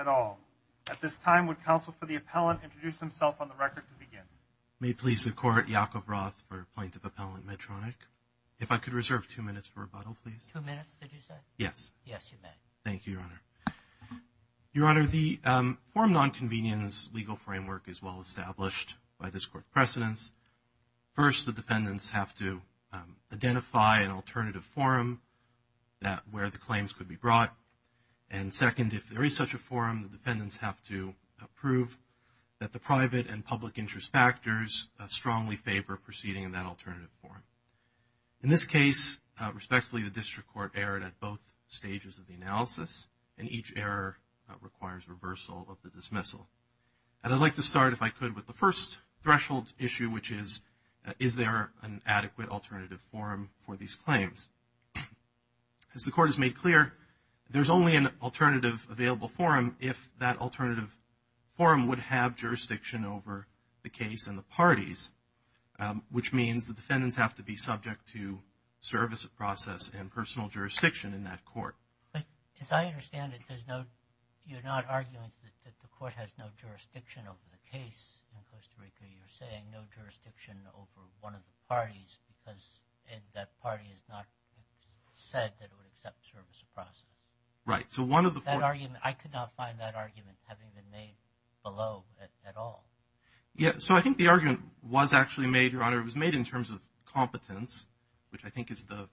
at all. At this time, would counsel for the appellant introduce himself on the record to begin? May it please the Court, Yakov Roth for a point of appellant, Medtronic. If I could reserve two minutes for rebuttal, please. Two minutes, did you say? Yes. Yes, you may. Thank you, Your Honor. Your Honor, the form that I'm about to present, the forum non-convenience legal framework is well-established by this Court's precedence. First, the defendants have to identify an alternative forum where the claims could be brought. And second, if there is such a forum, the defendants have to prove that the private and public interest factors strongly favor proceeding in that alternative forum. In this case, respectfully, the District Court erred at both stages of the analysis, and each error requires reversal of the dismissal. And I'd like to start, if I could, with the first threshold issue, which is, is there an adequate alternative forum for these claims? As the Court has made clear, there's only an alternative available forum if that alternative forum would have jurisdiction over the case and the parties, which means the defendants have to be subject to service process and personal jurisdiction in that court. As I understand it, there's no, you're not saying the Court has no jurisdiction over the case in Costa Rica, you're saying no jurisdiction over one of the parties because that party has not said that it would accept service process. Right. So one of the... That argument, I could not find that argument having been made below at all. Yeah, so I think the argument was actually made, Your Honor, it was made in terms of competence, which I think is the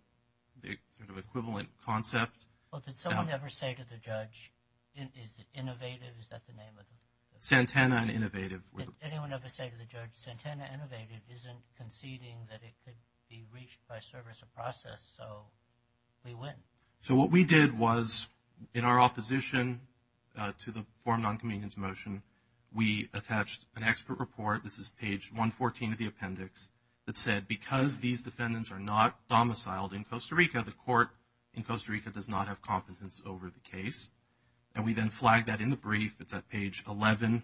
sort of equivalent concept. Well, did someone ever say to the judge, is it innovative, is that the name of it? Santana and Innovative. Did anyone ever say to the judge, Santana Innovative isn't conceding that it could be reached by service of process, so we win? So what we did was, in our opposition to the forum non-convenience motion, we attached an expert report, this is page 114 of the appendix, that said because these defendants are not domiciled in Costa Rica, the Court in Costa Rica does not have competence over the case, and we then flagged that in the brief, it's at page 11.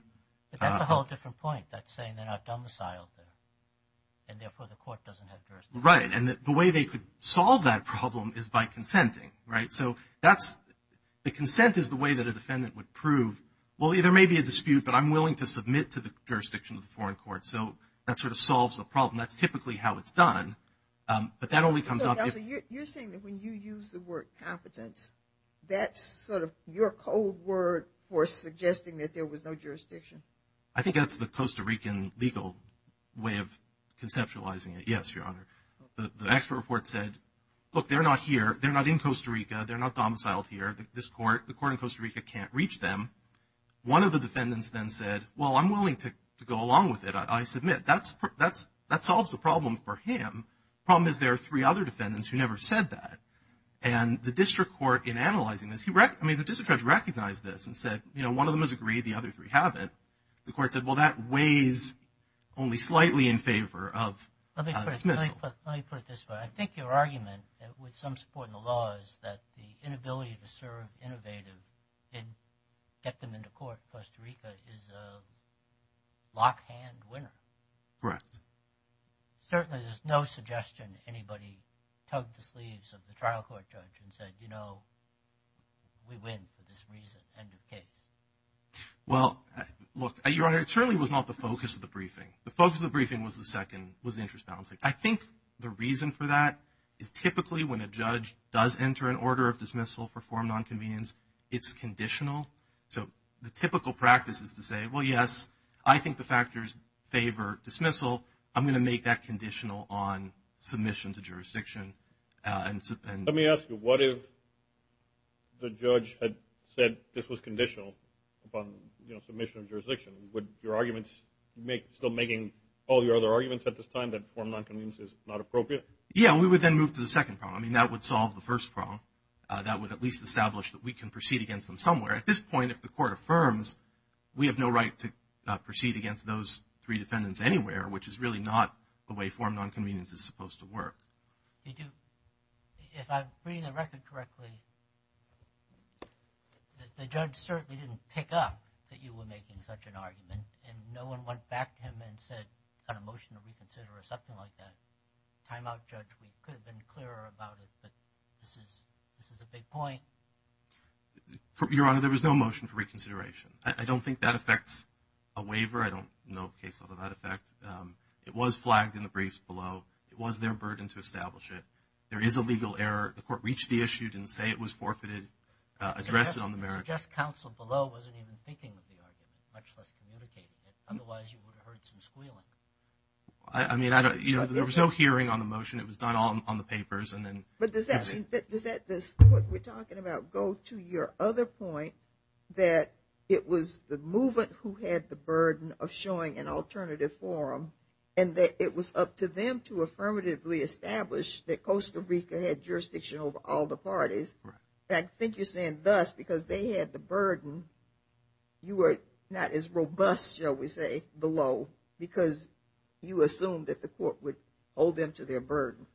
But that's a whole different point, that saying they're not domiciled there, and therefore the Court doesn't have jurisdiction. Right, and the way they could solve that problem is by consenting, right? So the consent is the way that a defendant would prove, well, there may be a dispute, but I'm willing to submit to the jurisdiction of the foreign court, so that sort of solves the problem. That's typically how it's done, but that only comes up if... You're saying that when you use the word competence, that's sort of your code word for suggesting that there was no jurisdiction? I think that's the Costa Rican legal way of conceptualizing it. Yes, Your Honor. The expert report said, look, they're not here, they're not in Costa Rica, they're not domiciled here, the Court in Costa Rica can't reach them. One of the defendants then said, well, I'm willing to go along with it, I submit. That solves the problem for him. The problem is there are three other defendants who never said that. And the district court, in analyzing this, I mean, the district judge recognized this and said, you know, one of them has agreed, the other three haven't. The Court said, well, that weighs only slightly in favor of dismissal. Let me put it this way. I think your argument, with some support in the law, is that the inability to serve innovative and get them into court in Costa Rica is a lock-hand winner. Correct. Certainly there's no suggestion anybody tugged the sleeves of the trial court judge and said, you know, we win for this reason, end of case. Well, look, Your Honor, it certainly was not the focus of the briefing. The focus of the briefing was the interest balancing. I think the reason for that is typically when a judge does enter an order of dismissal for form nonconvenience, it's conditional. So the typical practice is to say, well, yes, I think the factors favor dismissal. I'm going to make that conditional on submission to jurisdiction. Let me ask you, what if the judge had said this was conditional upon, you know, making all your other arguments at this time, that form nonconvenience is not appropriate? Yeah. We would then move to the second problem. I mean, that would solve the first problem. That would at least establish that we can proceed against them somewhere. At this point, if the Court affirms, we have no right to proceed against those three defendants anywhere, which is really not the way form nonconvenience is supposed to work. If I'm reading the record correctly, the judge certainly didn't pick up that you were making such an argument, and no one went back to him and said, got a motion to reconsider or something like that. Timeout, Judge, we could have been clearer about it, but this is a big point. Your Honor, there was no motion for reconsideration. I don't think that affects a waiver. I don't know of a case out of that effect. It was flagged in the briefs below. It was their burden to establish it. There is a legal error. The Court reached the issue, didn't say it was forfeited, addressed it on the merits. I suggest counsel below wasn't even thinking of the argument, much less communicating it. Otherwise, you would have heard some squealing. I mean, you know, there was no hearing on the motion. It was done all on the papers. But does that, what we're talking about, go to your other point, that it was the movement who had the burden of showing an alternative forum, and that it was up to them to affirmatively establish that Costa Rica had jurisdiction over all the parties? I think you're saying thus, because they had the burden, you were not as robust, shall we say, below, because you assumed that the Court would hold them to their burden.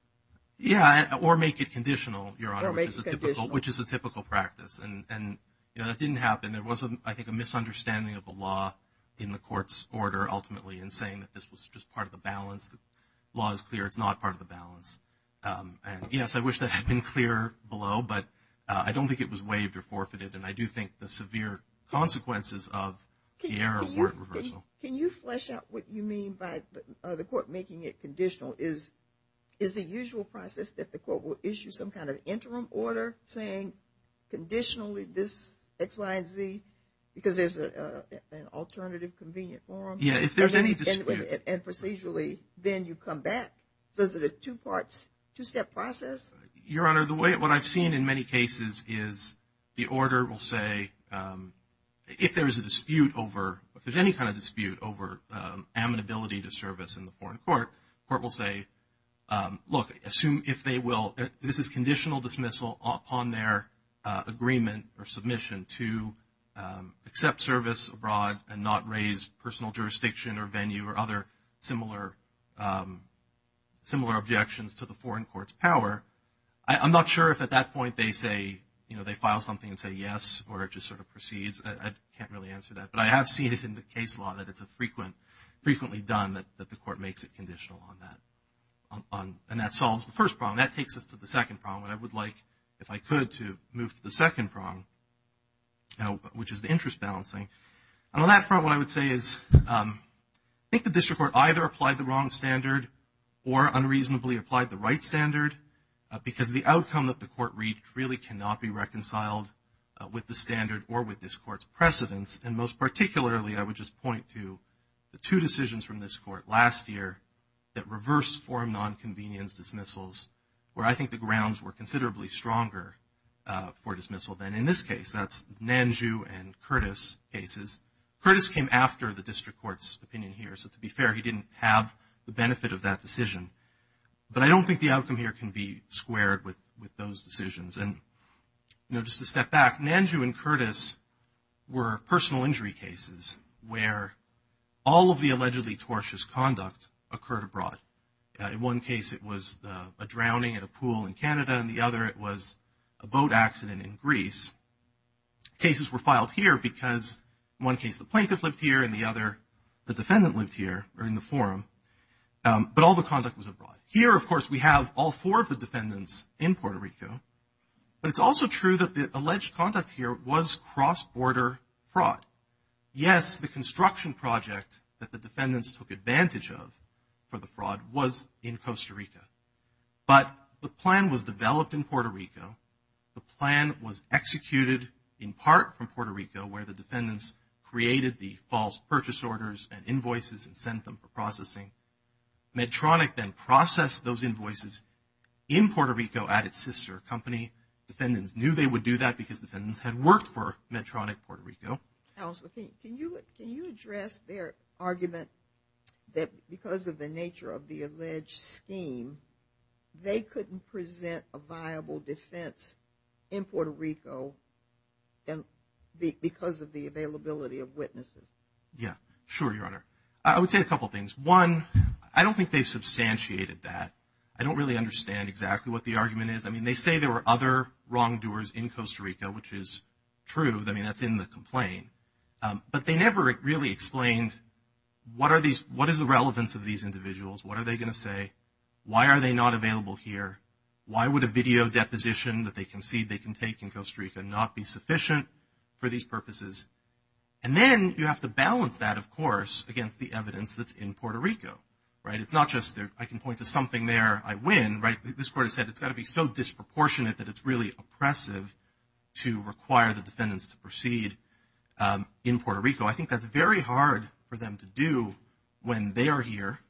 Yeah, or make it conditional, Your Honor, which is a typical practice. And it didn't happen. There was, I think, a misunderstanding of the law in the Court's order, ultimately, in saying that this was just part of the balance. The law is clear. It's not part of the balance. And yes, I wish that had been clearer below, but I don't think it was waived or forfeited. And I do think the severe consequences of the error weren't reversal. Can you flesh out what you mean by the Court making it conditional? Is the usual process that the Court will issue some kind of interim order saying, conditionally, this X, Y, and Z, because there's an alternative, convenient forum? Yeah, if there's any dispute. And procedurally, then you come back. Is it a two-step process? Your Honor, what I've seen in many cases is the order will say, if there's a dispute over, if there's any kind of dispute over amenability to service in the foreign court, the court will say, look, assume if they will, this is conditional dismissal upon their agreement or submission to accept service abroad and not raise personal jurisdiction or venue or other similar objections to the foreign court's power. I'm not sure if at that point they say, you know, they file something and say yes, or it just sort of proceeds. I can't really answer that. But I have seen it in the case law that it's a frequently done that the Court makes it conditional on that. And that solves the first problem. That takes us to the second problem. And I would like, if I could, to move to the second problem, which is the interest balancing. And on that front, what I would say is I think the District Court either applied the wrong standard or unreasonably applied the right standard because the outcome that the Court reached really cannot be reconciled with the standard or with this Court's precedence. And most particularly, I would just point to the two decisions from this Court last year that reversed foreign nonconvenience dismissals where I think the grounds were considerably stronger for dismissal than in this case. That's Nanju and Curtis cases. Curtis came after the District Court's opinion here. So to be fair, he didn't have the benefit of that decision. But I don't think the outcome here can be squared with those decisions. And, you know, just to step back, Nanju and Curtis were personal injury cases where all of the allegedly tortuous conduct occurred abroad. In one case, it was a drowning at a pool in Canada. In the other, it was a boat accident in Greece. Cases were filed here because, in one case, the plaintiff lived here. In the other, the defendant lived here or in the forum. But all the conduct was abroad. It was in Costa Rica. But the plan was developed in Puerto Rico. The plan was executed in part from Puerto Rico where the defendants created the false purchase orders and invoices and sent them for processing. Medtronic then processed those invoices in Puerto Rico at its sister company. Defendants knew they would do that because defendants had worked for Medtronic Puerto Rico. Alice, can you address their argument that because of the nature of the alleged scheme, they couldn't present a viable defense in Puerto Rico because of the availability of witnesses? Yeah. Sure, Your Honor. I would say a couple things. One, I don't think they've substantiated that. I don't really understand exactly what the argument is. I mean, they say there were other wrongdoers in Costa Rica, which is true. I mean, that's in the complaint. But they never really explained what is the relevance of these individuals? What are they going to say? Why are they not available here? Why would a video deposition that they concede they can take in Costa Rica not be sufficient for these purposes? And then you have to balance that, of course, against the evidence that's in Puerto Rico. It's not just I can point to something there, I win. This court has said it's got to be so disproportionate that it's really oppressive to require the defendants to proceed in Puerto Rico. I think that's very hard for them to do when they are here,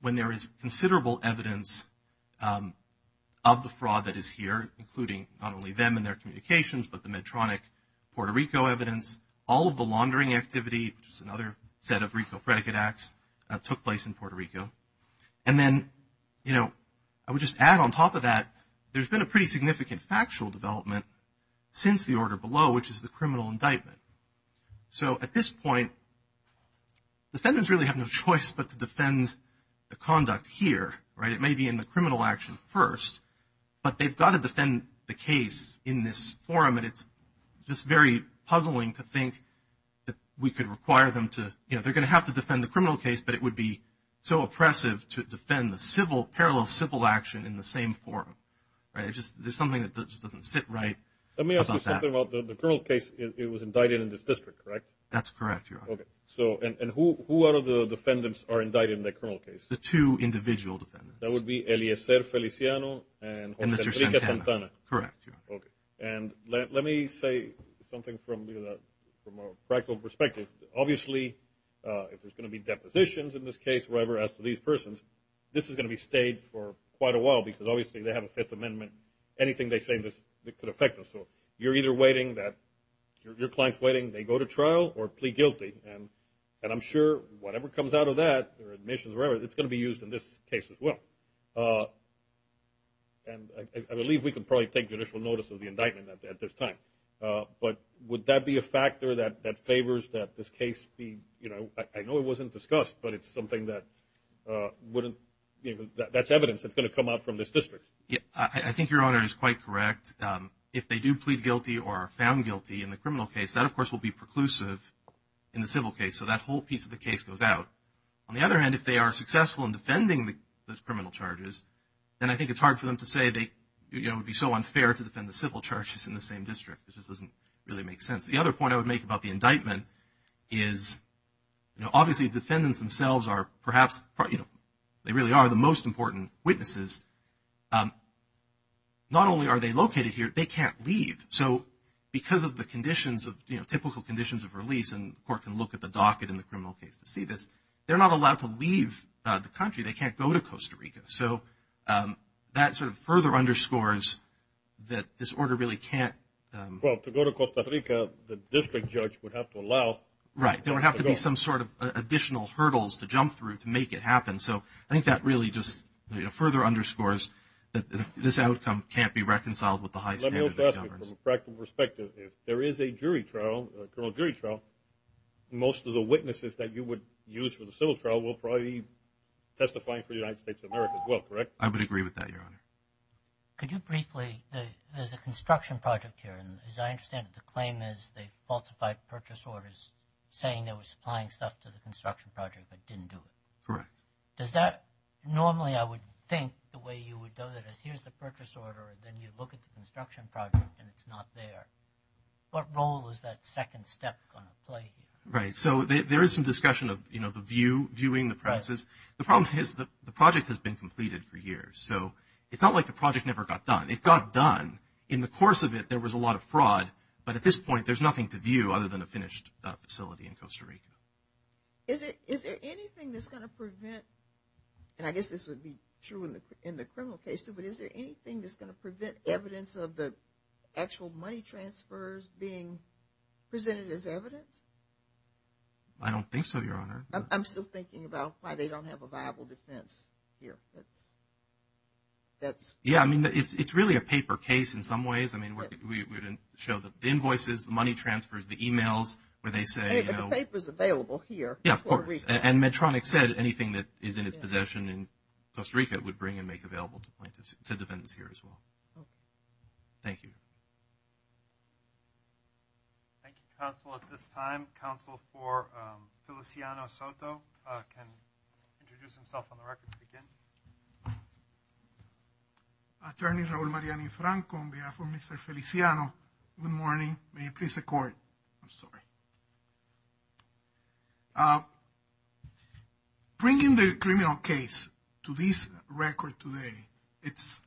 when there is considerable evidence of the fraud that is here, including not only them and their communications, but the Medtronic Puerto Rico evidence. All of the laundering activity, which is another set of RICO predicate acts, took place in Puerto Rico. And then, you know, I would just add on top of that, there's been a pretty significant factual development since the order below, which is the criminal indictment. So at this point, defendants really have no choice but to defend the conduct here, right? It may be in the criminal action first, but they've got to defend the case in this forum, and it's just very puzzling to think that we could require them to, you know, they're going to have to defend the criminal case, but it would be so oppressive to defend the parallel civil action in the same forum, right? There's something that just doesn't sit right about that. The criminal case, it was indicted in this district, correct? That's correct, Your Honor. And who are the defendants are indicted in the criminal case? The two individual defendants. And let me say something from a practical perspective. Obviously, if there's going to be depositions in this case, wherever, as to these persons, this is going to be stayed for quite a while, because obviously they have a Fifth Amendment, anything they say that could affect them. So you're either waiting, your client's waiting, they go to trial or plead guilty, and I'm sure whatever comes out of that, their admissions or whatever, it's going to be used in this case as well. And I believe we can probably take judicial notice of the indictment at this time. But would that be a factor that favors that this case be, you know, I know it wasn't discussed, but it's something that wouldn't, that's evidence that's going to come out from this district. Yeah, I think Your Honor is quite correct. If they do plead guilty or are found guilty in the criminal case, that, of course, will be preclusive in the civil case. So that whole piece of the case goes out. On the other hand, if they are successful in defending the criminal charges, then I think it's hard for them to say they, you know, it would be so unfair to defend the civil charges in the same district. It just doesn't really make sense. The other point I would make about the indictment is, you know, obviously the defendants themselves are perhaps, you know, they really are the most important witnesses. Not only are they located here, they can't leave. So because of the conditions of, you know, typical conditions of release, and the court can look at the docket in the criminal case to see this, they're not allowed to leave the country. They can't go to Costa Rica. So that sort of further underscores that this order really can't. Well, to go to Costa Rica, the district judge would have to allow. Right. There would have to be some sort of additional hurdles to jump through to make it happen. So I think that really just further underscores that this outcome can't be reconciled with the high standards. From a practical perspective, if there is a jury trial, a criminal jury trial, most of the witnesses that you would use for the civil trial will probably be testifying for the United States of America as well, correct? I would agree with that, Your Honor. Could you briefly, there's a construction project here, and as I understand it, the claim is they falsified purchase orders saying they were supplying stuff to the construction project but didn't do it. Correct. Does that, normally I would think the way you would do it is here's the purchase order, then you look at the construction project and it's not there. What role is that second step going to play here? Right. So there is some discussion of, you know, the view, viewing the process. The problem is the project has been completed for years. So it's not like the project never got done. It got done. In the course of it, there was a lot of fraud. But at this point, there's nothing to view other than a finished facility in Costa Rica. Is there anything that's going to prevent, and I guess this would be true in the criminal case too, but is there anything that's going to prevent evidence of the actual money transfers being presented as evidence? I don't think so, Your Honor. I'm still thinking about why they don't have a viable defense here. Yeah, I mean, it's really a paper case in some ways. I mean, we didn't show the invoices, the money transfers, the emails where they say, you know. But the paper's available here in Costa Rica. Yeah, of course. And Medtronic said anything that is in its possession in Costa Rica would bring and make available to plaintiffs, to defendants here as well. Thank you. Thank you, counsel. At this time, counsel for Feliciano Soto can introduce himself on the record to begin. Attorney Raul Mariani Franco on behalf of Mr. Feliciano. Good morning. May it please the Court. I'm sorry. Bringing the criminal case to this record today, it's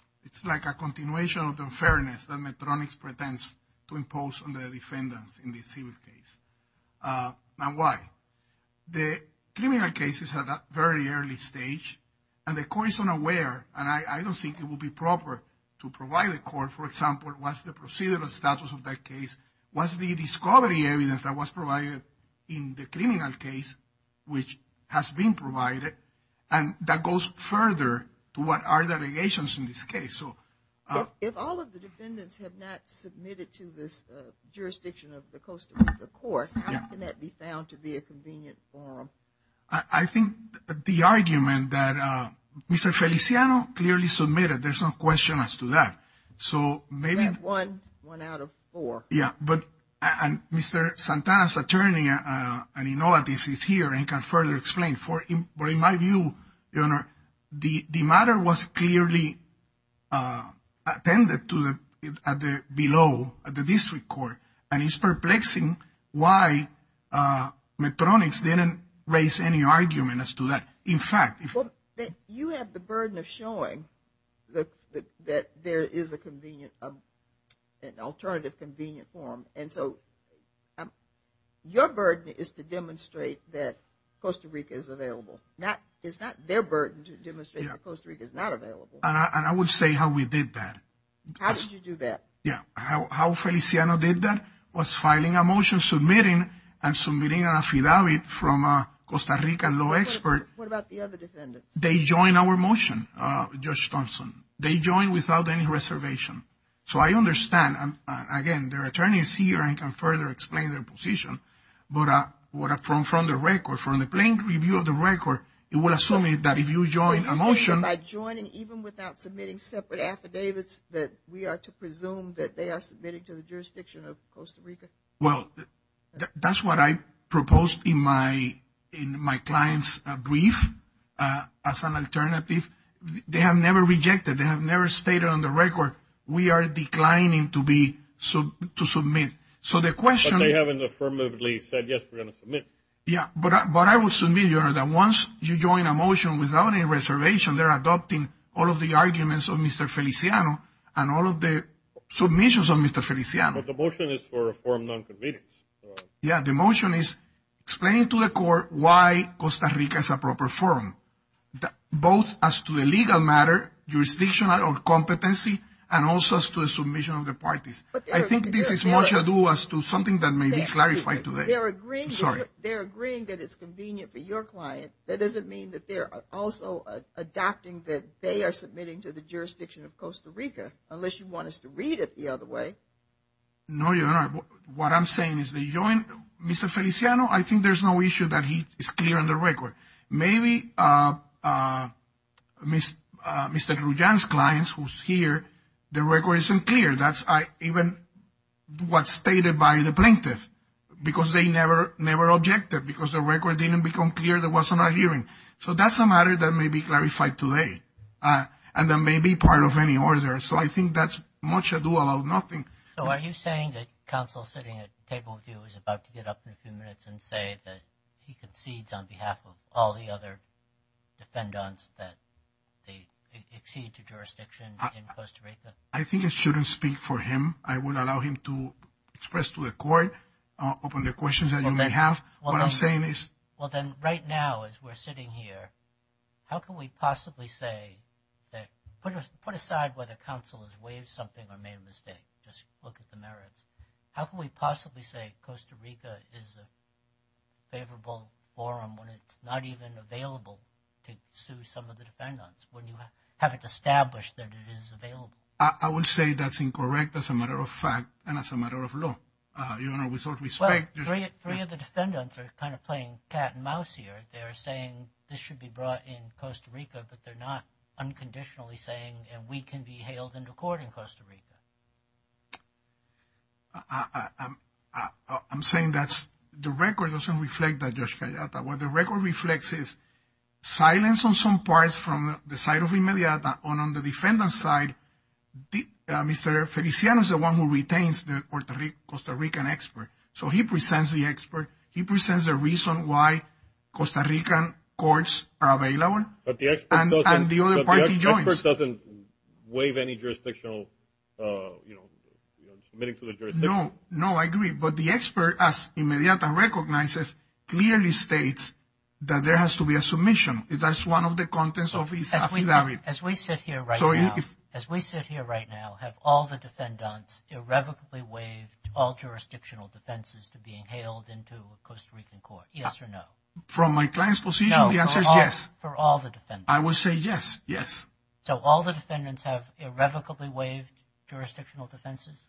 like a continuation of the unfairness that Medtronic pretends to impose on the defendants in this civil case. Now, why? The criminal case is at a very early stage, and the Court is unaware, and I don't think it would be proper to provide the Court, for example, what's the procedural status of that case, what's the discovery evidence that was provided in the criminal case, which has been provided. And that goes further to what are the allegations in this case. If all of the defendants have not submitted to this jurisdiction of the Costa Rica Court, how can that be found to be a convenient forum? I think the argument that Mr. Feliciano clearly submitted, there's no question as to that. So maybe one out of four. Yeah, but Mr. Santana's attorney, I mean, he's here and can further explain. But in my view, the matter was clearly attended to below at the district court, and it's perplexing why Medtronic didn't raise any argument as to that. You have the burden of showing that there is an alternative convenient forum. And so your burden is to demonstrate that Costa Rica is available. It's not their burden to demonstrate that Costa Rica is not available. And I would say how we did that. How did you do that? Yeah, how Feliciano did that was filing a motion submitting and submitting an affidavit from a Costa Rican law expert. What about the other defendants? They joined our motion, Judge Thompson. They joined without any reservation. So I understand. Again, their attorney is here and can further explain their position. But from the record, from the plain review of the record, it will assume that if you join a motion. So you're saying that by joining even without submitting separate affidavits that we are to presume that they are submitting to the jurisdiction of Costa Rica? Well, that's what I proposed in my client's brief as an alternative. They have never rejected. They have never stated on the record we are declining to submit. So the question. But they haven't affirmatively said, yes, we're going to submit. Yeah, but I will submit, Your Honor, that once you join a motion without any reservation, they're adopting all of the arguments of Mr. Feliciano and all of the submissions of Mr. Feliciano. But the motion is for a form of non-convenience. Yeah, the motion is explaining to the court why Costa Rica is a proper forum, both as to the legal matter, jurisdictional competency, and also as to the submission of the parties. I think this is much adieu as to something that may be clarified today. They're agreeing that it's convenient for your client. That doesn't mean that they're also adopting that they are submitting to the jurisdiction of Costa Rica, unless you want us to read it the other way. No, Your Honor. What I'm saying is they joined. Mr. Feliciano, I think there's no issue that he is clear on the record. Maybe Mr. Trujan's clients who's here, their record isn't clear. That's even what's stated by the plaintiff because they never objected because their record didn't become clear that wasn't adhering. So that's a matter that may be clarified today and that may be part of any order. So I think that's much ado about nothing. So are you saying that counsel sitting at the table with you is about to get up in a few minutes and say that he concedes on behalf of all the other defendants that exceed to jurisdiction in Costa Rica? I think I shouldn't speak for him. I would allow him to express to the court, open the questions that you may have. What I'm saying is. Well, then, right now, as we're sitting here, how can we possibly say that? Put aside whether counsel has waived something or made a mistake. Just look at the merits. How can we possibly say Costa Rica is a favorable forum when it's not even available to sue some of the defendants when you have it established that it is available? I would say that's incorrect as a matter of fact and as a matter of law. Your Honor, with all due respect. Three of the defendants are kind of playing cat and mouse here. They're saying this should be brought in Costa Rica, but they're not unconditionally saying and we can be hailed into court in Costa Rica. I'm saying that the record doesn't reflect that, Judge Gallata. What the record reflects is silence on some parts from the side of the mediator and on the defendant's side, Mr. Feliciano is the one who retains the Costa Rican expert. So he presents the expert. He presents the reason why Costa Rican courts are available and the other party joins. But the expert doesn't waive any jurisdictional, you know, submitting to the jurisdiction. No, I agree. But the expert, as Inmediata recognizes, clearly states that there has to be a submission. That's one of the contents of his affidavit. As we sit here right now, have all the defendants irrevocably waived all jurisdictional defenses to being hailed into a Costa Rican court, yes or no? From my client's position, the answer is yes. For all the defendants? I would say yes, yes. So all the defendants have irrevocably waived jurisdictional defenses?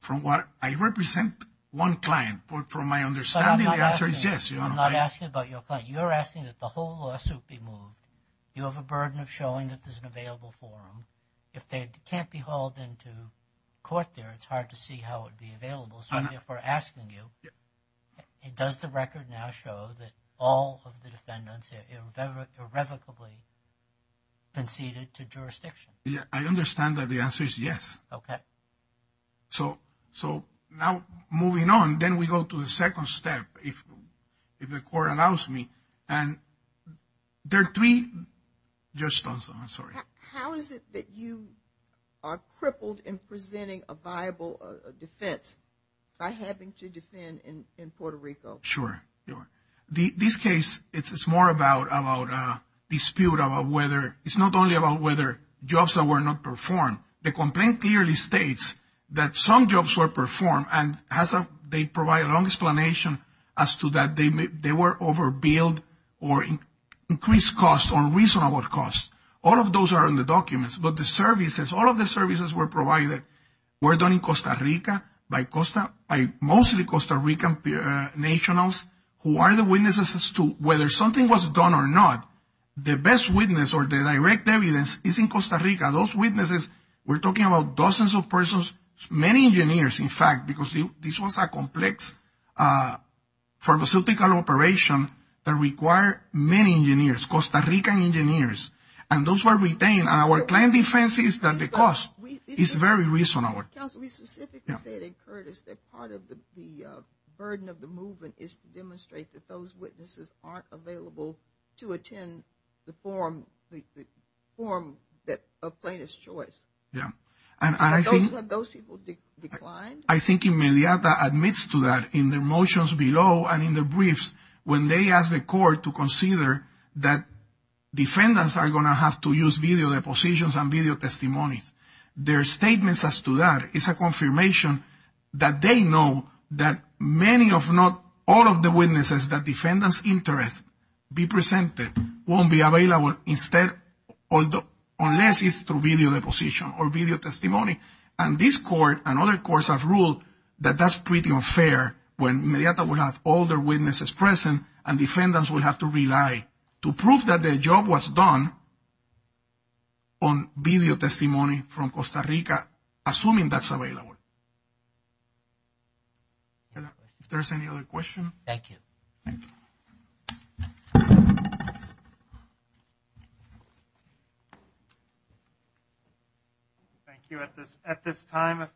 From what I represent, one client. But from my understanding, the answer is yes. I'm not asking about your client. You're asking that the whole lawsuit be moved. You have a burden of showing that there's an available forum. If they can't be hauled into court there, it's hard to see how it would be available. So if we're asking you, does the record now show that all of the defendants irrevocably conceded to jurisdiction? I understand that the answer is yes. Okay. So now moving on, then we go to the second step, if the court allows me. And there are three. Judge Stonestone, I'm sorry. How is it that you are crippled in presenting a viable defense by having to defend in Puerto Rico? Sure. This case, it's more about a dispute about whether it's not only about whether jobs that were not performed. The complaint clearly states that some jobs were performed, and they provide a long explanation as to that they were overbilled or increased costs or reasonable costs. All of those are in the documents. But the services, all of the services were provided were done in Costa Rica by mostly Costa Rican nationals who are the witnesses as to whether something was done or not. The best witness or the direct evidence is in Costa Rica. Those witnesses, we're talking about dozens of persons, many engineers, in fact, because this was a complex pharmaceutical operation that required many engineers, Costa Rican engineers. And those were retained. Our client defense is that the cost is very reasonable. Counsel, we specifically said in Curtis that part of the burden of the movement is to demonstrate that those witnesses aren't available to attend the forum of plaintiff's choice. And those people declined? I think Inmediata admits to that in their motions below and in their briefs when they ask the court to consider that defendants are going to have to use video depositions and video testimonies. Their statements as to that is a confirmation that they know that many, if not all, of the witnesses that defendant's interest be presented won't be available instead unless it's through video deposition or video testimony. And this court and other courts have ruled that that's pretty unfair when Inmediata will have all their witnesses present and defendants will have to rely to prove that their job was done on video testimony from Costa Rica, assuming that's available. Any more? If there's any other questions. Thank you. Thank you. Thank you. At this time, if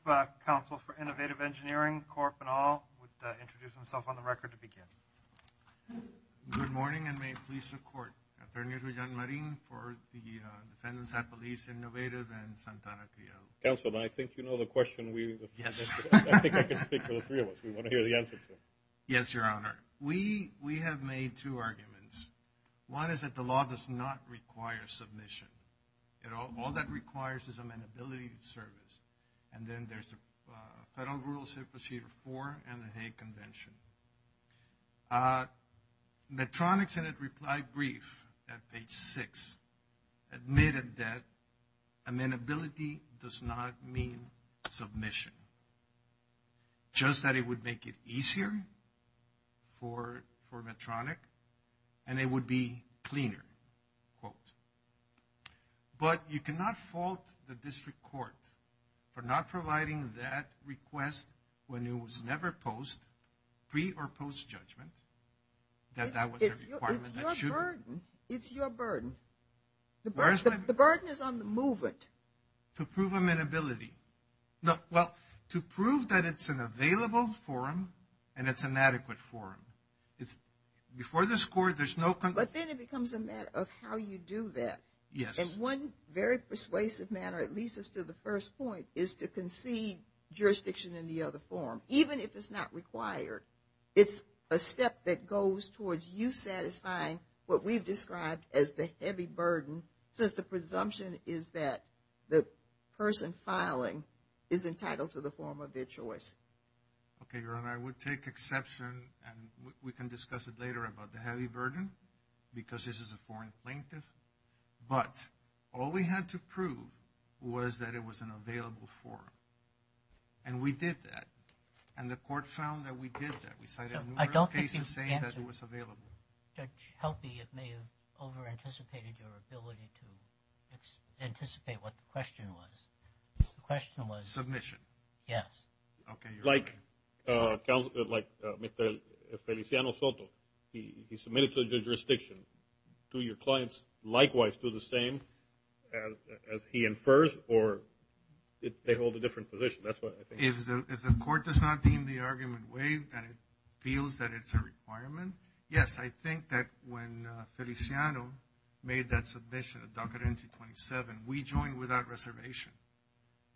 counsel for Innovative Engineering, Corp, and all would introduce themselves on the record to begin. Good morning and may it please the court. I'm attorney for John Marin for the defendants at Police Innovative and Santana T.O. Counsel, I think you know the question. Yes. I think I can speak to the three of us. We want to hear the answer to it. Yes, Your Honor. We have made two arguments. One is that the law does not require submission. All that requires is amenability service. And then there's a federal rules here for and the Hague Convention. Medtronic's in a reply brief at page six admitted that amenability does not mean submission, just that it would make it easier for Medtronic and it would be cleaner. But you cannot fault the district court for not providing that request when it was never posed pre or post judgment. It's your burden. It's your burden. The burden is on the movement. To prove amenability. Well, to prove that it's an available forum and it's an adequate forum. Before this court, there's no... But then it becomes a matter of how you do that. Yes. And one very persuasive manner, at least as to the first point, is to concede jurisdiction in the other forum, even if it's not required. It's a step that goes towards you satisfying what we've described as the heavy burden, since the presumption is that the person filing is entitled to the form of their choice. Okay, Your Honor. Your Honor, I would take exception and we can discuss it later about the heavy burden, because this is a foreign plaintiff. But all we had to prove was that it was an available forum. And we did that. And the court found that we did that. We cited a number of cases saying that it was available. Judge Helpe, you may have over-anticipated your ability to anticipate what the question was. The question was... Submission. Yes. Okay, Your Honor. Like Feliciano Soto, he submitted to the jurisdiction. Do your clients likewise do the same as he infers, or they hold a different position? That's what I think. If the court does not deem the argument waived, that it feels that it's a requirement, yes, I think that when Feliciano made that submission at DACA 2027, we joined without reservation.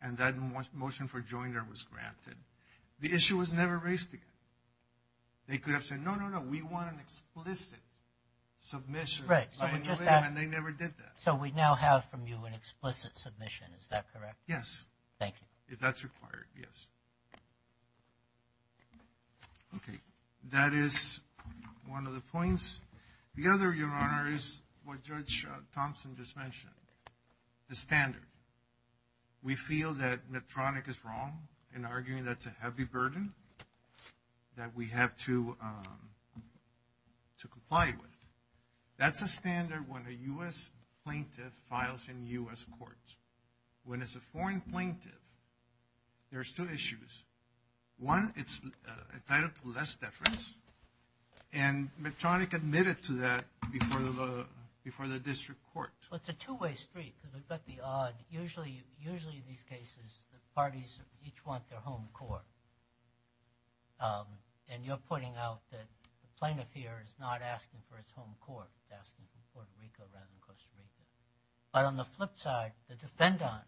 And that motion for joiner was granted. The issue was never raised again. They could have said, no, no, no, we want an explicit submission. Right. And they never did that. So we now have from you an explicit submission. Is that correct? Yes. Thank you. If that's required, yes. Okay. That is one of the points. The other, Your Honor, is what Judge Thompson just mentioned, the standard. We feel that Medtronic is wrong in arguing that it's a heavy burden that we have to comply with. That's a standard when a U.S. plaintiff files in U.S. courts. When it's a foreign plaintiff, there's two issues. One, it's entitled to less deference, and Medtronic admitted to that before the district court. Well, it's a two-way street because we've got the odd, usually in these cases, the parties each want their home court. And you're pointing out that the plaintiff here is not asking for his home court. He's asking for Puerto Rico rather than Costa Rica. But on the flip side, the defendant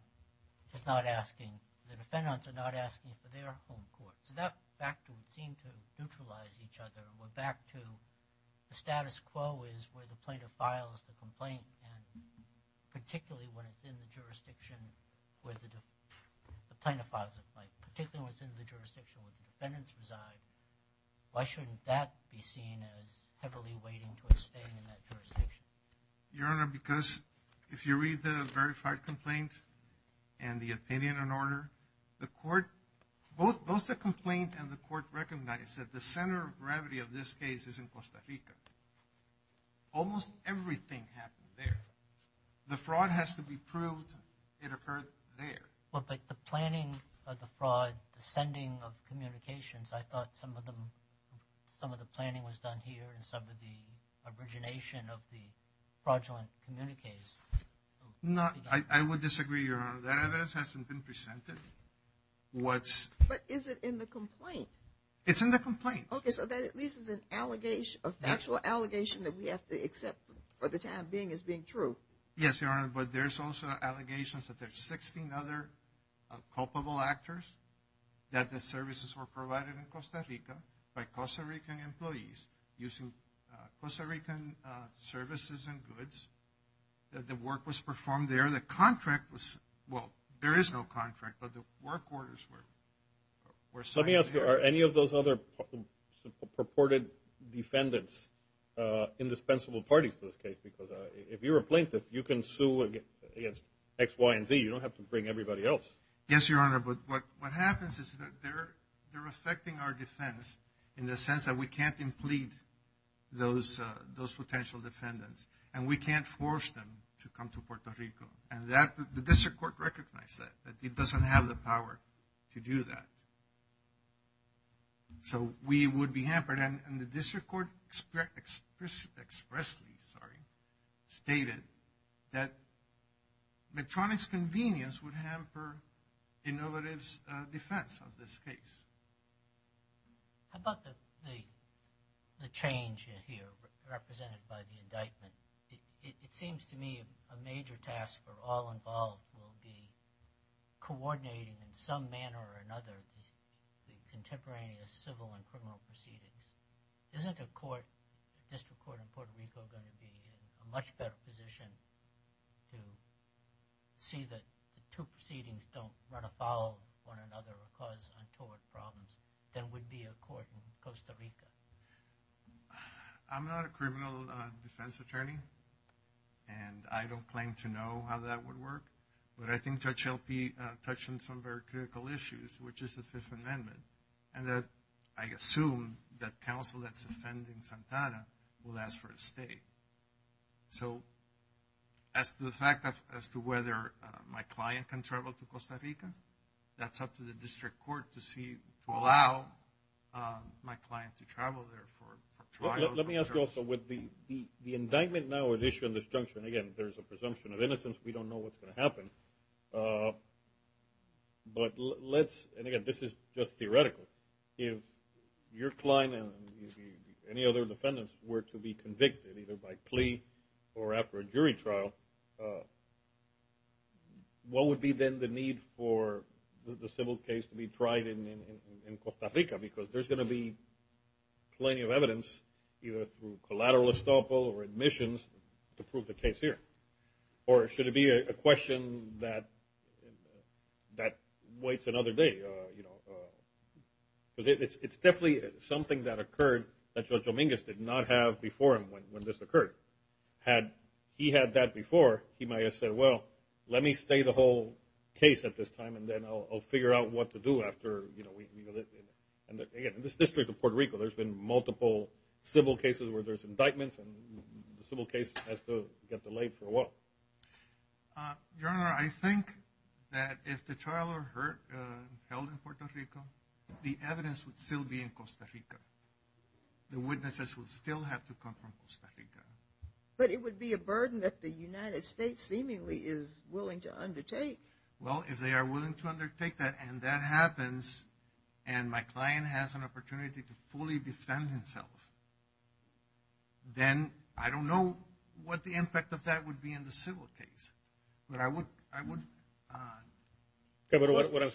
is not asking, the defendants are not asking for their home court. So that factor would seem to neutralize each other. We're back to the status quo is where the plaintiff files the complaint, and particularly when it's in the jurisdiction where the plaintiff files the complaint, particularly when it's in the jurisdiction where the defendants reside. Why shouldn't that be seen as heavily weighting towards staying in that jurisdiction? Your Honor, because if you read the verified complaint and the opinion and order, both the complaint and the court recognize that the center of gravity of this case is in Costa Rica. Almost everything happened there. The fraud has to be proved it occurred there. Well, but the planning of the fraud, the sending of communications, I thought some of the planning was done here and some of the origination of the fraudulent communique. No, I would disagree, Your Honor. That evidence hasn't been presented. But is it in the complaint? It's in the complaint. Okay, so that at least is an actual allegation that we have to accept for the time being as being true. Yes, Your Honor, but there's also allegations that there's 16 other culpable actors that the services were provided in Costa Rica by Costa Rican employees using Costa Rican services and goods. The work was performed there. The contract was – well, there is no contract, but the work orders were signed there. Let me ask you, are any of those other purported defendants indispensable parties to this case? Because if you're a plaintiff, you can sue against X, Y, and Z. You don't have to bring everybody else. Yes, Your Honor, but what happens is that they're affecting our defense in the sense that we can't implead those potential defendants, and we can't force them to come to Puerto Rico. And the district court recognized that. It doesn't have the power to do that. So we would be hampered. And the district court expressly stated that Medtronic's convenience would hamper Innovative's defense of this case. How about the change here represented by the indictment? It seems to me a major task for all involved will be coordinating in some manner or another the contemporaneous civil and criminal proceedings. Isn't a district court in Puerto Rico going to be in a much better position to see that two proceedings don't run afoul of one another or cause untoward problems than would be a court in Costa Rica? I'm not a criminal defense attorney, and I don't claim to know how that would work. But I think Judge LP touched on some very critical issues, which is the Fifth Amendment, and that I assume that counsel that's defending Santana will ask for a stay. So as to the fact as to whether my client can travel to Costa Rica, that's up to the district court to allow my client to travel there for trial. Let me ask you also, with the indictment now at issue in this junction, again, if there's a presumption of innocence, we don't know what's going to happen. But let's, and again, this is just theoretical. If your client and any other defendants were to be convicted either by plea or after a jury trial, what would be then the need for the civil case to be tried in Costa Rica? Because there's going to be plenty of evidence either through collateral estoppel or admissions to prove the case here. Or should it be a question that waits another day? It's definitely something that occurred that Judge Dominguez did not have before him when this occurred. Had he had that before, he might have said, well, let me stay the whole case at this time, and then I'll figure out what to do after. Again, in this district of Puerto Rico, there's been multiple civil cases where there's indictments, and the civil case has to get delayed for a while. Your Honor, I think that if the trial were held in Puerto Rico, the evidence would still be in Costa Rica. The witnesses would still have to come from Costa Rica. But it would be a burden that the United States seemingly is willing to undertake. Well, if they are willing to undertake that, and that happens, and my client has an opportunity to fully defend himself, then I don't know what the impact of that would be in the civil case. What I'm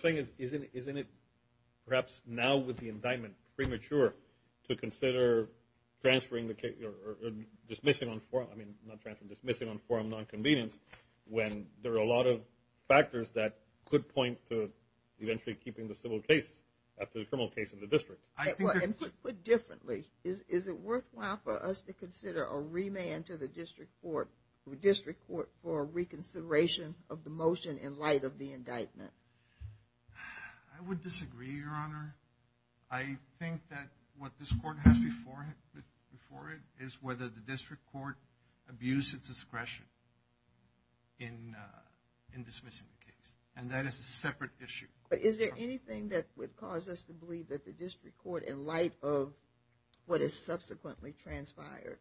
saying is isn't it perhaps now with the indictment premature to consider transferring the case or dismissing on forum, I mean, not transferring, dismissing on forum nonconvenience when there are a lot of factors that could point to eventually keeping the civil case after the criminal case in the district. Put differently, is it worthwhile for us to consider a remand to the district court for reconsideration of the motion in light of the indictment? I would disagree, Your Honor. I think that what this court has before it is whether the district court abuses discretion in dismissing the case, and that is a separate issue. But is there anything that would cause us to believe that the district court, in light of what is subsequently transpired,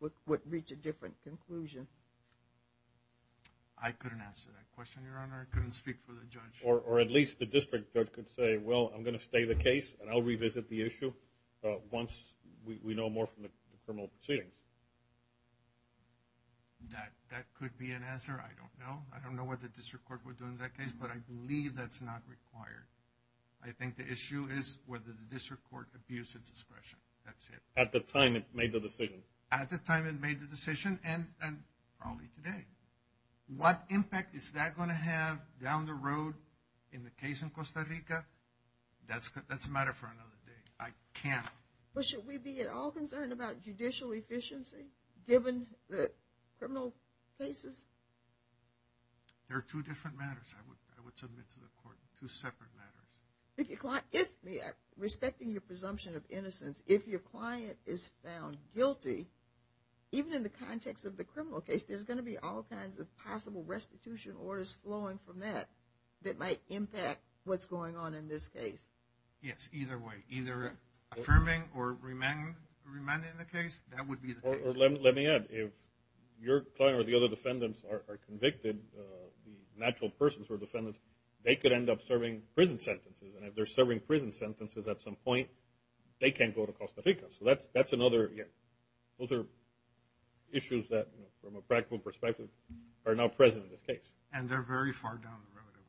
would reach a different conclusion? I couldn't answer that question, Your Honor. I couldn't speak for the judge. Or at least the district judge could say, well, I'm going to stay the case, and I'll revisit the issue once we know more from the criminal proceeding. That could be an answer. I don't know. I don't know what the district court would do in that case, but I believe that's not required. I think the issue is whether the district court abuses discretion. That's it. At the time it made the decision. At the time it made the decision, and probably today. What impact is that going to have down the road in the case in Costa Rica? That's a matter for another day. I can't. But should we be at all concerned about judicial efficiency given the criminal cases? There are two different matters I would submit to the court, two separate matters. If your client is found guilty, even in the context of the criminal case, there's going to be all kinds of possible restitution orders flowing from that that might impact what's going on in this case. Yes, either way. Either affirming or remanding the case, that would be the case. Let me add, if your client or the other defendants are convicted, the natural persons who are defendants, they could end up serving prison sentences. And if they're serving prison sentences at some point, they can't go to Costa Rica. So those are issues that, from a practical perspective, are now present in this case. And they're very far down the road, I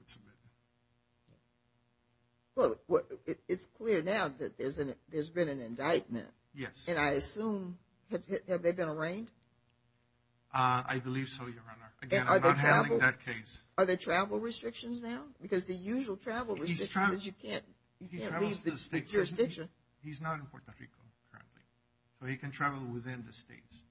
would submit. Well, it's clear now that there's been an indictment. Yes. And I assume, have they been arraigned? I believe so, Your Honor. Again, I'm not handling that case. Are there travel restrictions now? Because the usual travel restrictions is you can't leave the jurisdiction. He's not in Puerto Rico currently. So he can travel within the states.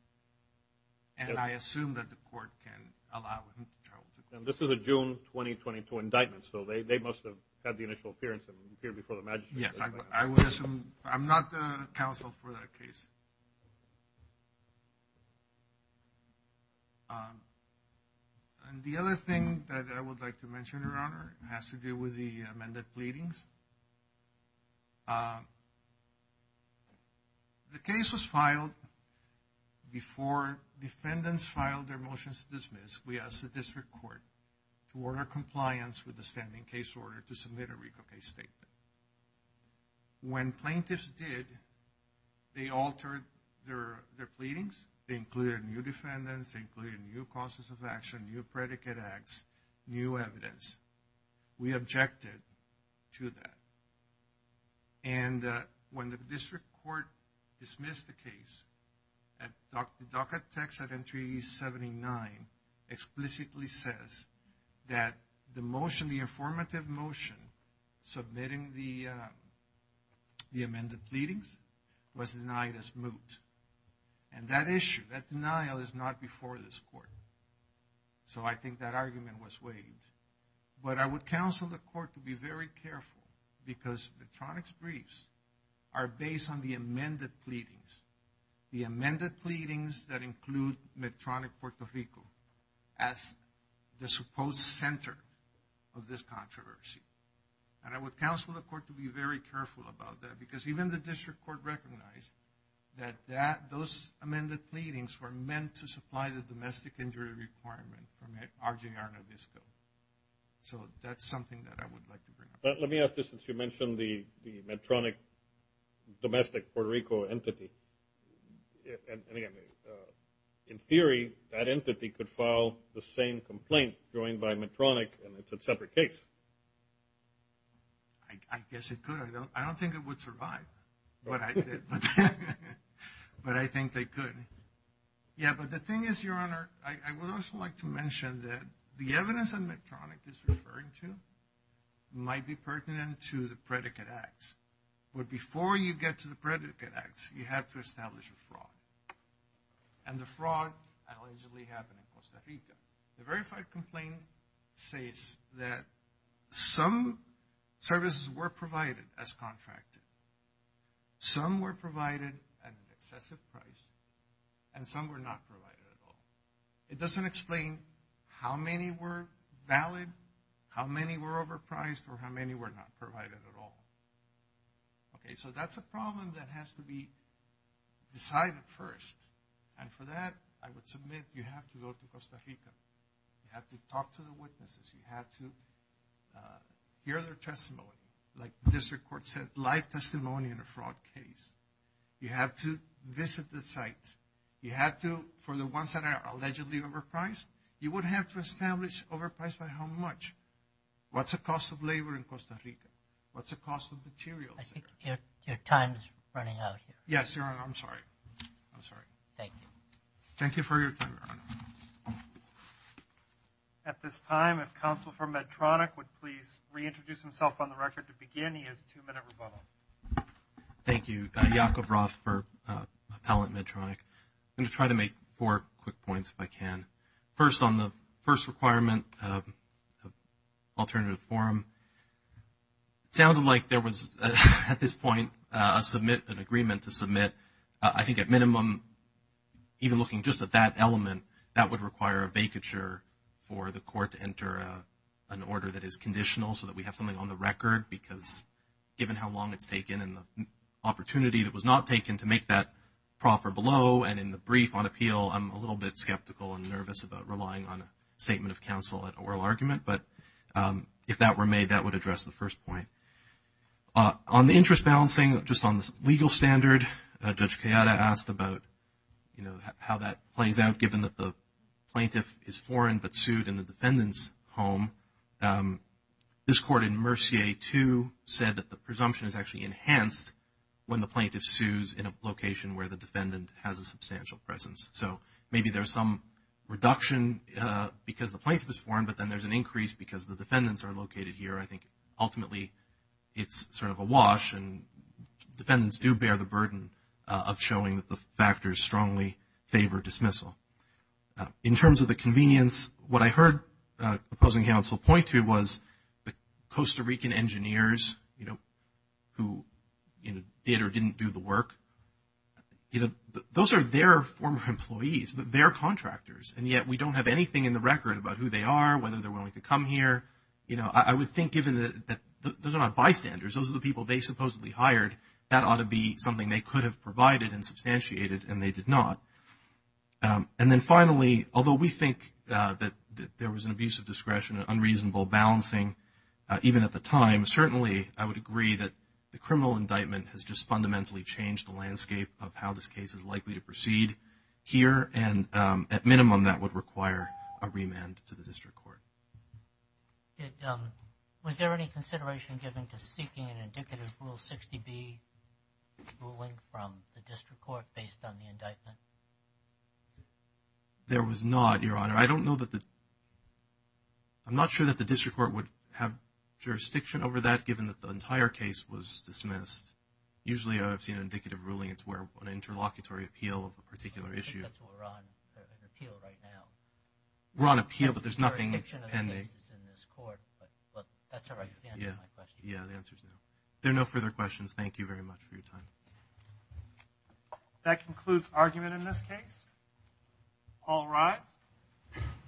And I assume that the court can allow him to travel to Costa Rica. This is a June 2022 indictment, so they must have had the initial appearance and appeared before the magistrate. Yes, I would assume. I'm not the counsel for that case. And the other thing that I would like to mention, Your Honor, has to do with the amended pleadings. The case was filed before defendants filed their motions to dismiss. We asked the district court to order compliance with the standing case order to submit a Rico case statement. When plaintiffs did, they altered their pleadings. They included new defendants. They included new causes of action, new predicate acts, new evidence. We objected to that. And when the district court dismissed the case, the docket text at entry 79 explicitly says that the motion, the informative motion submitting the amended pleadings was denied as moot. And that issue, that denial is not before this court. So I think that argument was waived. But I would counsel the court to be very careful because Medtronic's briefs are based on the amended pleadings, the amended pleadings that include Medtronic Puerto Rico as the supposed center of this controversy. And I would counsel the court to be very careful about that because even the district court recognized that those amended pleadings were meant to supply the domestic injury requirement from RJR Nabisco. So that's something that I would like to bring up. Let me ask this since you mentioned the Medtronic domestic Puerto Rico entity. In theory, that entity could file the same complaint going by Medtronic and it's a separate case. I guess it could. I don't think it would survive. But I think they could. Yeah, but the thing is, Your Honor, I would also like to mention that the evidence that Medtronic is referring to might be pertinent to the predicate acts. But before you get to the predicate acts, you have to establish a fraud. And the fraud allegedly happened in Costa Rica. The verified complaint says that some services were provided as contracted. Some were provided at an excessive price and some were not provided at all. It doesn't explain how many were valid, how many were overpriced, or how many were not provided at all. Okay, so that's a problem that has to be decided first. And for that, I would submit you have to go to Costa Rica. You have to talk to the witnesses. You have to hear their testimony, like the district court said, live testimony in a fraud case. You have to visit the site. You have to, for the ones that are allegedly overpriced, you would have to establish overpriced by how much. What's the cost of labor in Costa Rica? What's the cost of materials there? I think your time is running out here. Yes, Your Honor, I'm sorry. I'm sorry. Thank you. Thank you for your time, Your Honor. At this time, if Counsel for Medtronic would please reintroduce himself on the record to begin. He has a two-minute rebuttal. Thank you. Yaakov Roth for Appellant Medtronic. I'm going to try to make four quick points if I can. First, on the first requirement of alternative forum, it sounded like there was at this point an agreement to submit. I think at minimum, even looking just at that element, that would require a vacature for the court to enter an order that is conditional so that we have something on the record because given how long it's taken and the opportunity that was not taken to make that proffer below and in the brief on appeal, I'm a little bit skeptical and nervous about relying on a statement of counsel at oral argument. But if that were made, that would address the first point. On the interest balancing, just on the legal standard, Judge Kayada asked about how that plays out given that the plaintiff is foreign but sued in the defendant's home. This court in Mercier 2 said that the presumption is actually enhanced when the plaintiff sues in a location where the defendant has a substantial presence. So maybe there's some reduction because the plaintiff is foreign but then there's an increase because the defendants are located here. I think ultimately it's sort of a wash and defendants do bear the burden of showing that the factors strongly favor dismissal. In terms of the convenience, what I heard opposing counsel point to was the Costa Rican engineers who did or didn't do the work. Those are their former employees, their contractors, and yet we don't have anything in the record about who they are, whether they're willing to come here. I would think given that those are not bystanders, those are the people they supposedly hired, that ought to be something they could have provided and substantiated and they did not. And then finally, although we think that there was an abuse of discretion and unreasonable balancing even at the time, certainly I would agree that the criminal indictment has just fundamentally changed the landscape of how this case is likely to proceed here, and at minimum that would require a remand to the district court. Was there any consideration given to seeking an indicative Rule 60B ruling from the district court based on the indictment? There was not, Your Honor. I don't know that the – I'm not sure that the district court would have jurisdiction over that given that the entire case was dismissed. Usually I've seen an indicative ruling. It's where an interlocutory appeal of a particular issue. I think that's what we're on, an appeal right now. We're on appeal, but there's nothing pending. The jurisdiction of the case is in this court, but that's all right. You can answer my question. Yeah, the answer is no. There are no further questions. Thank you very much for your time. That concludes argument in this case. All rise.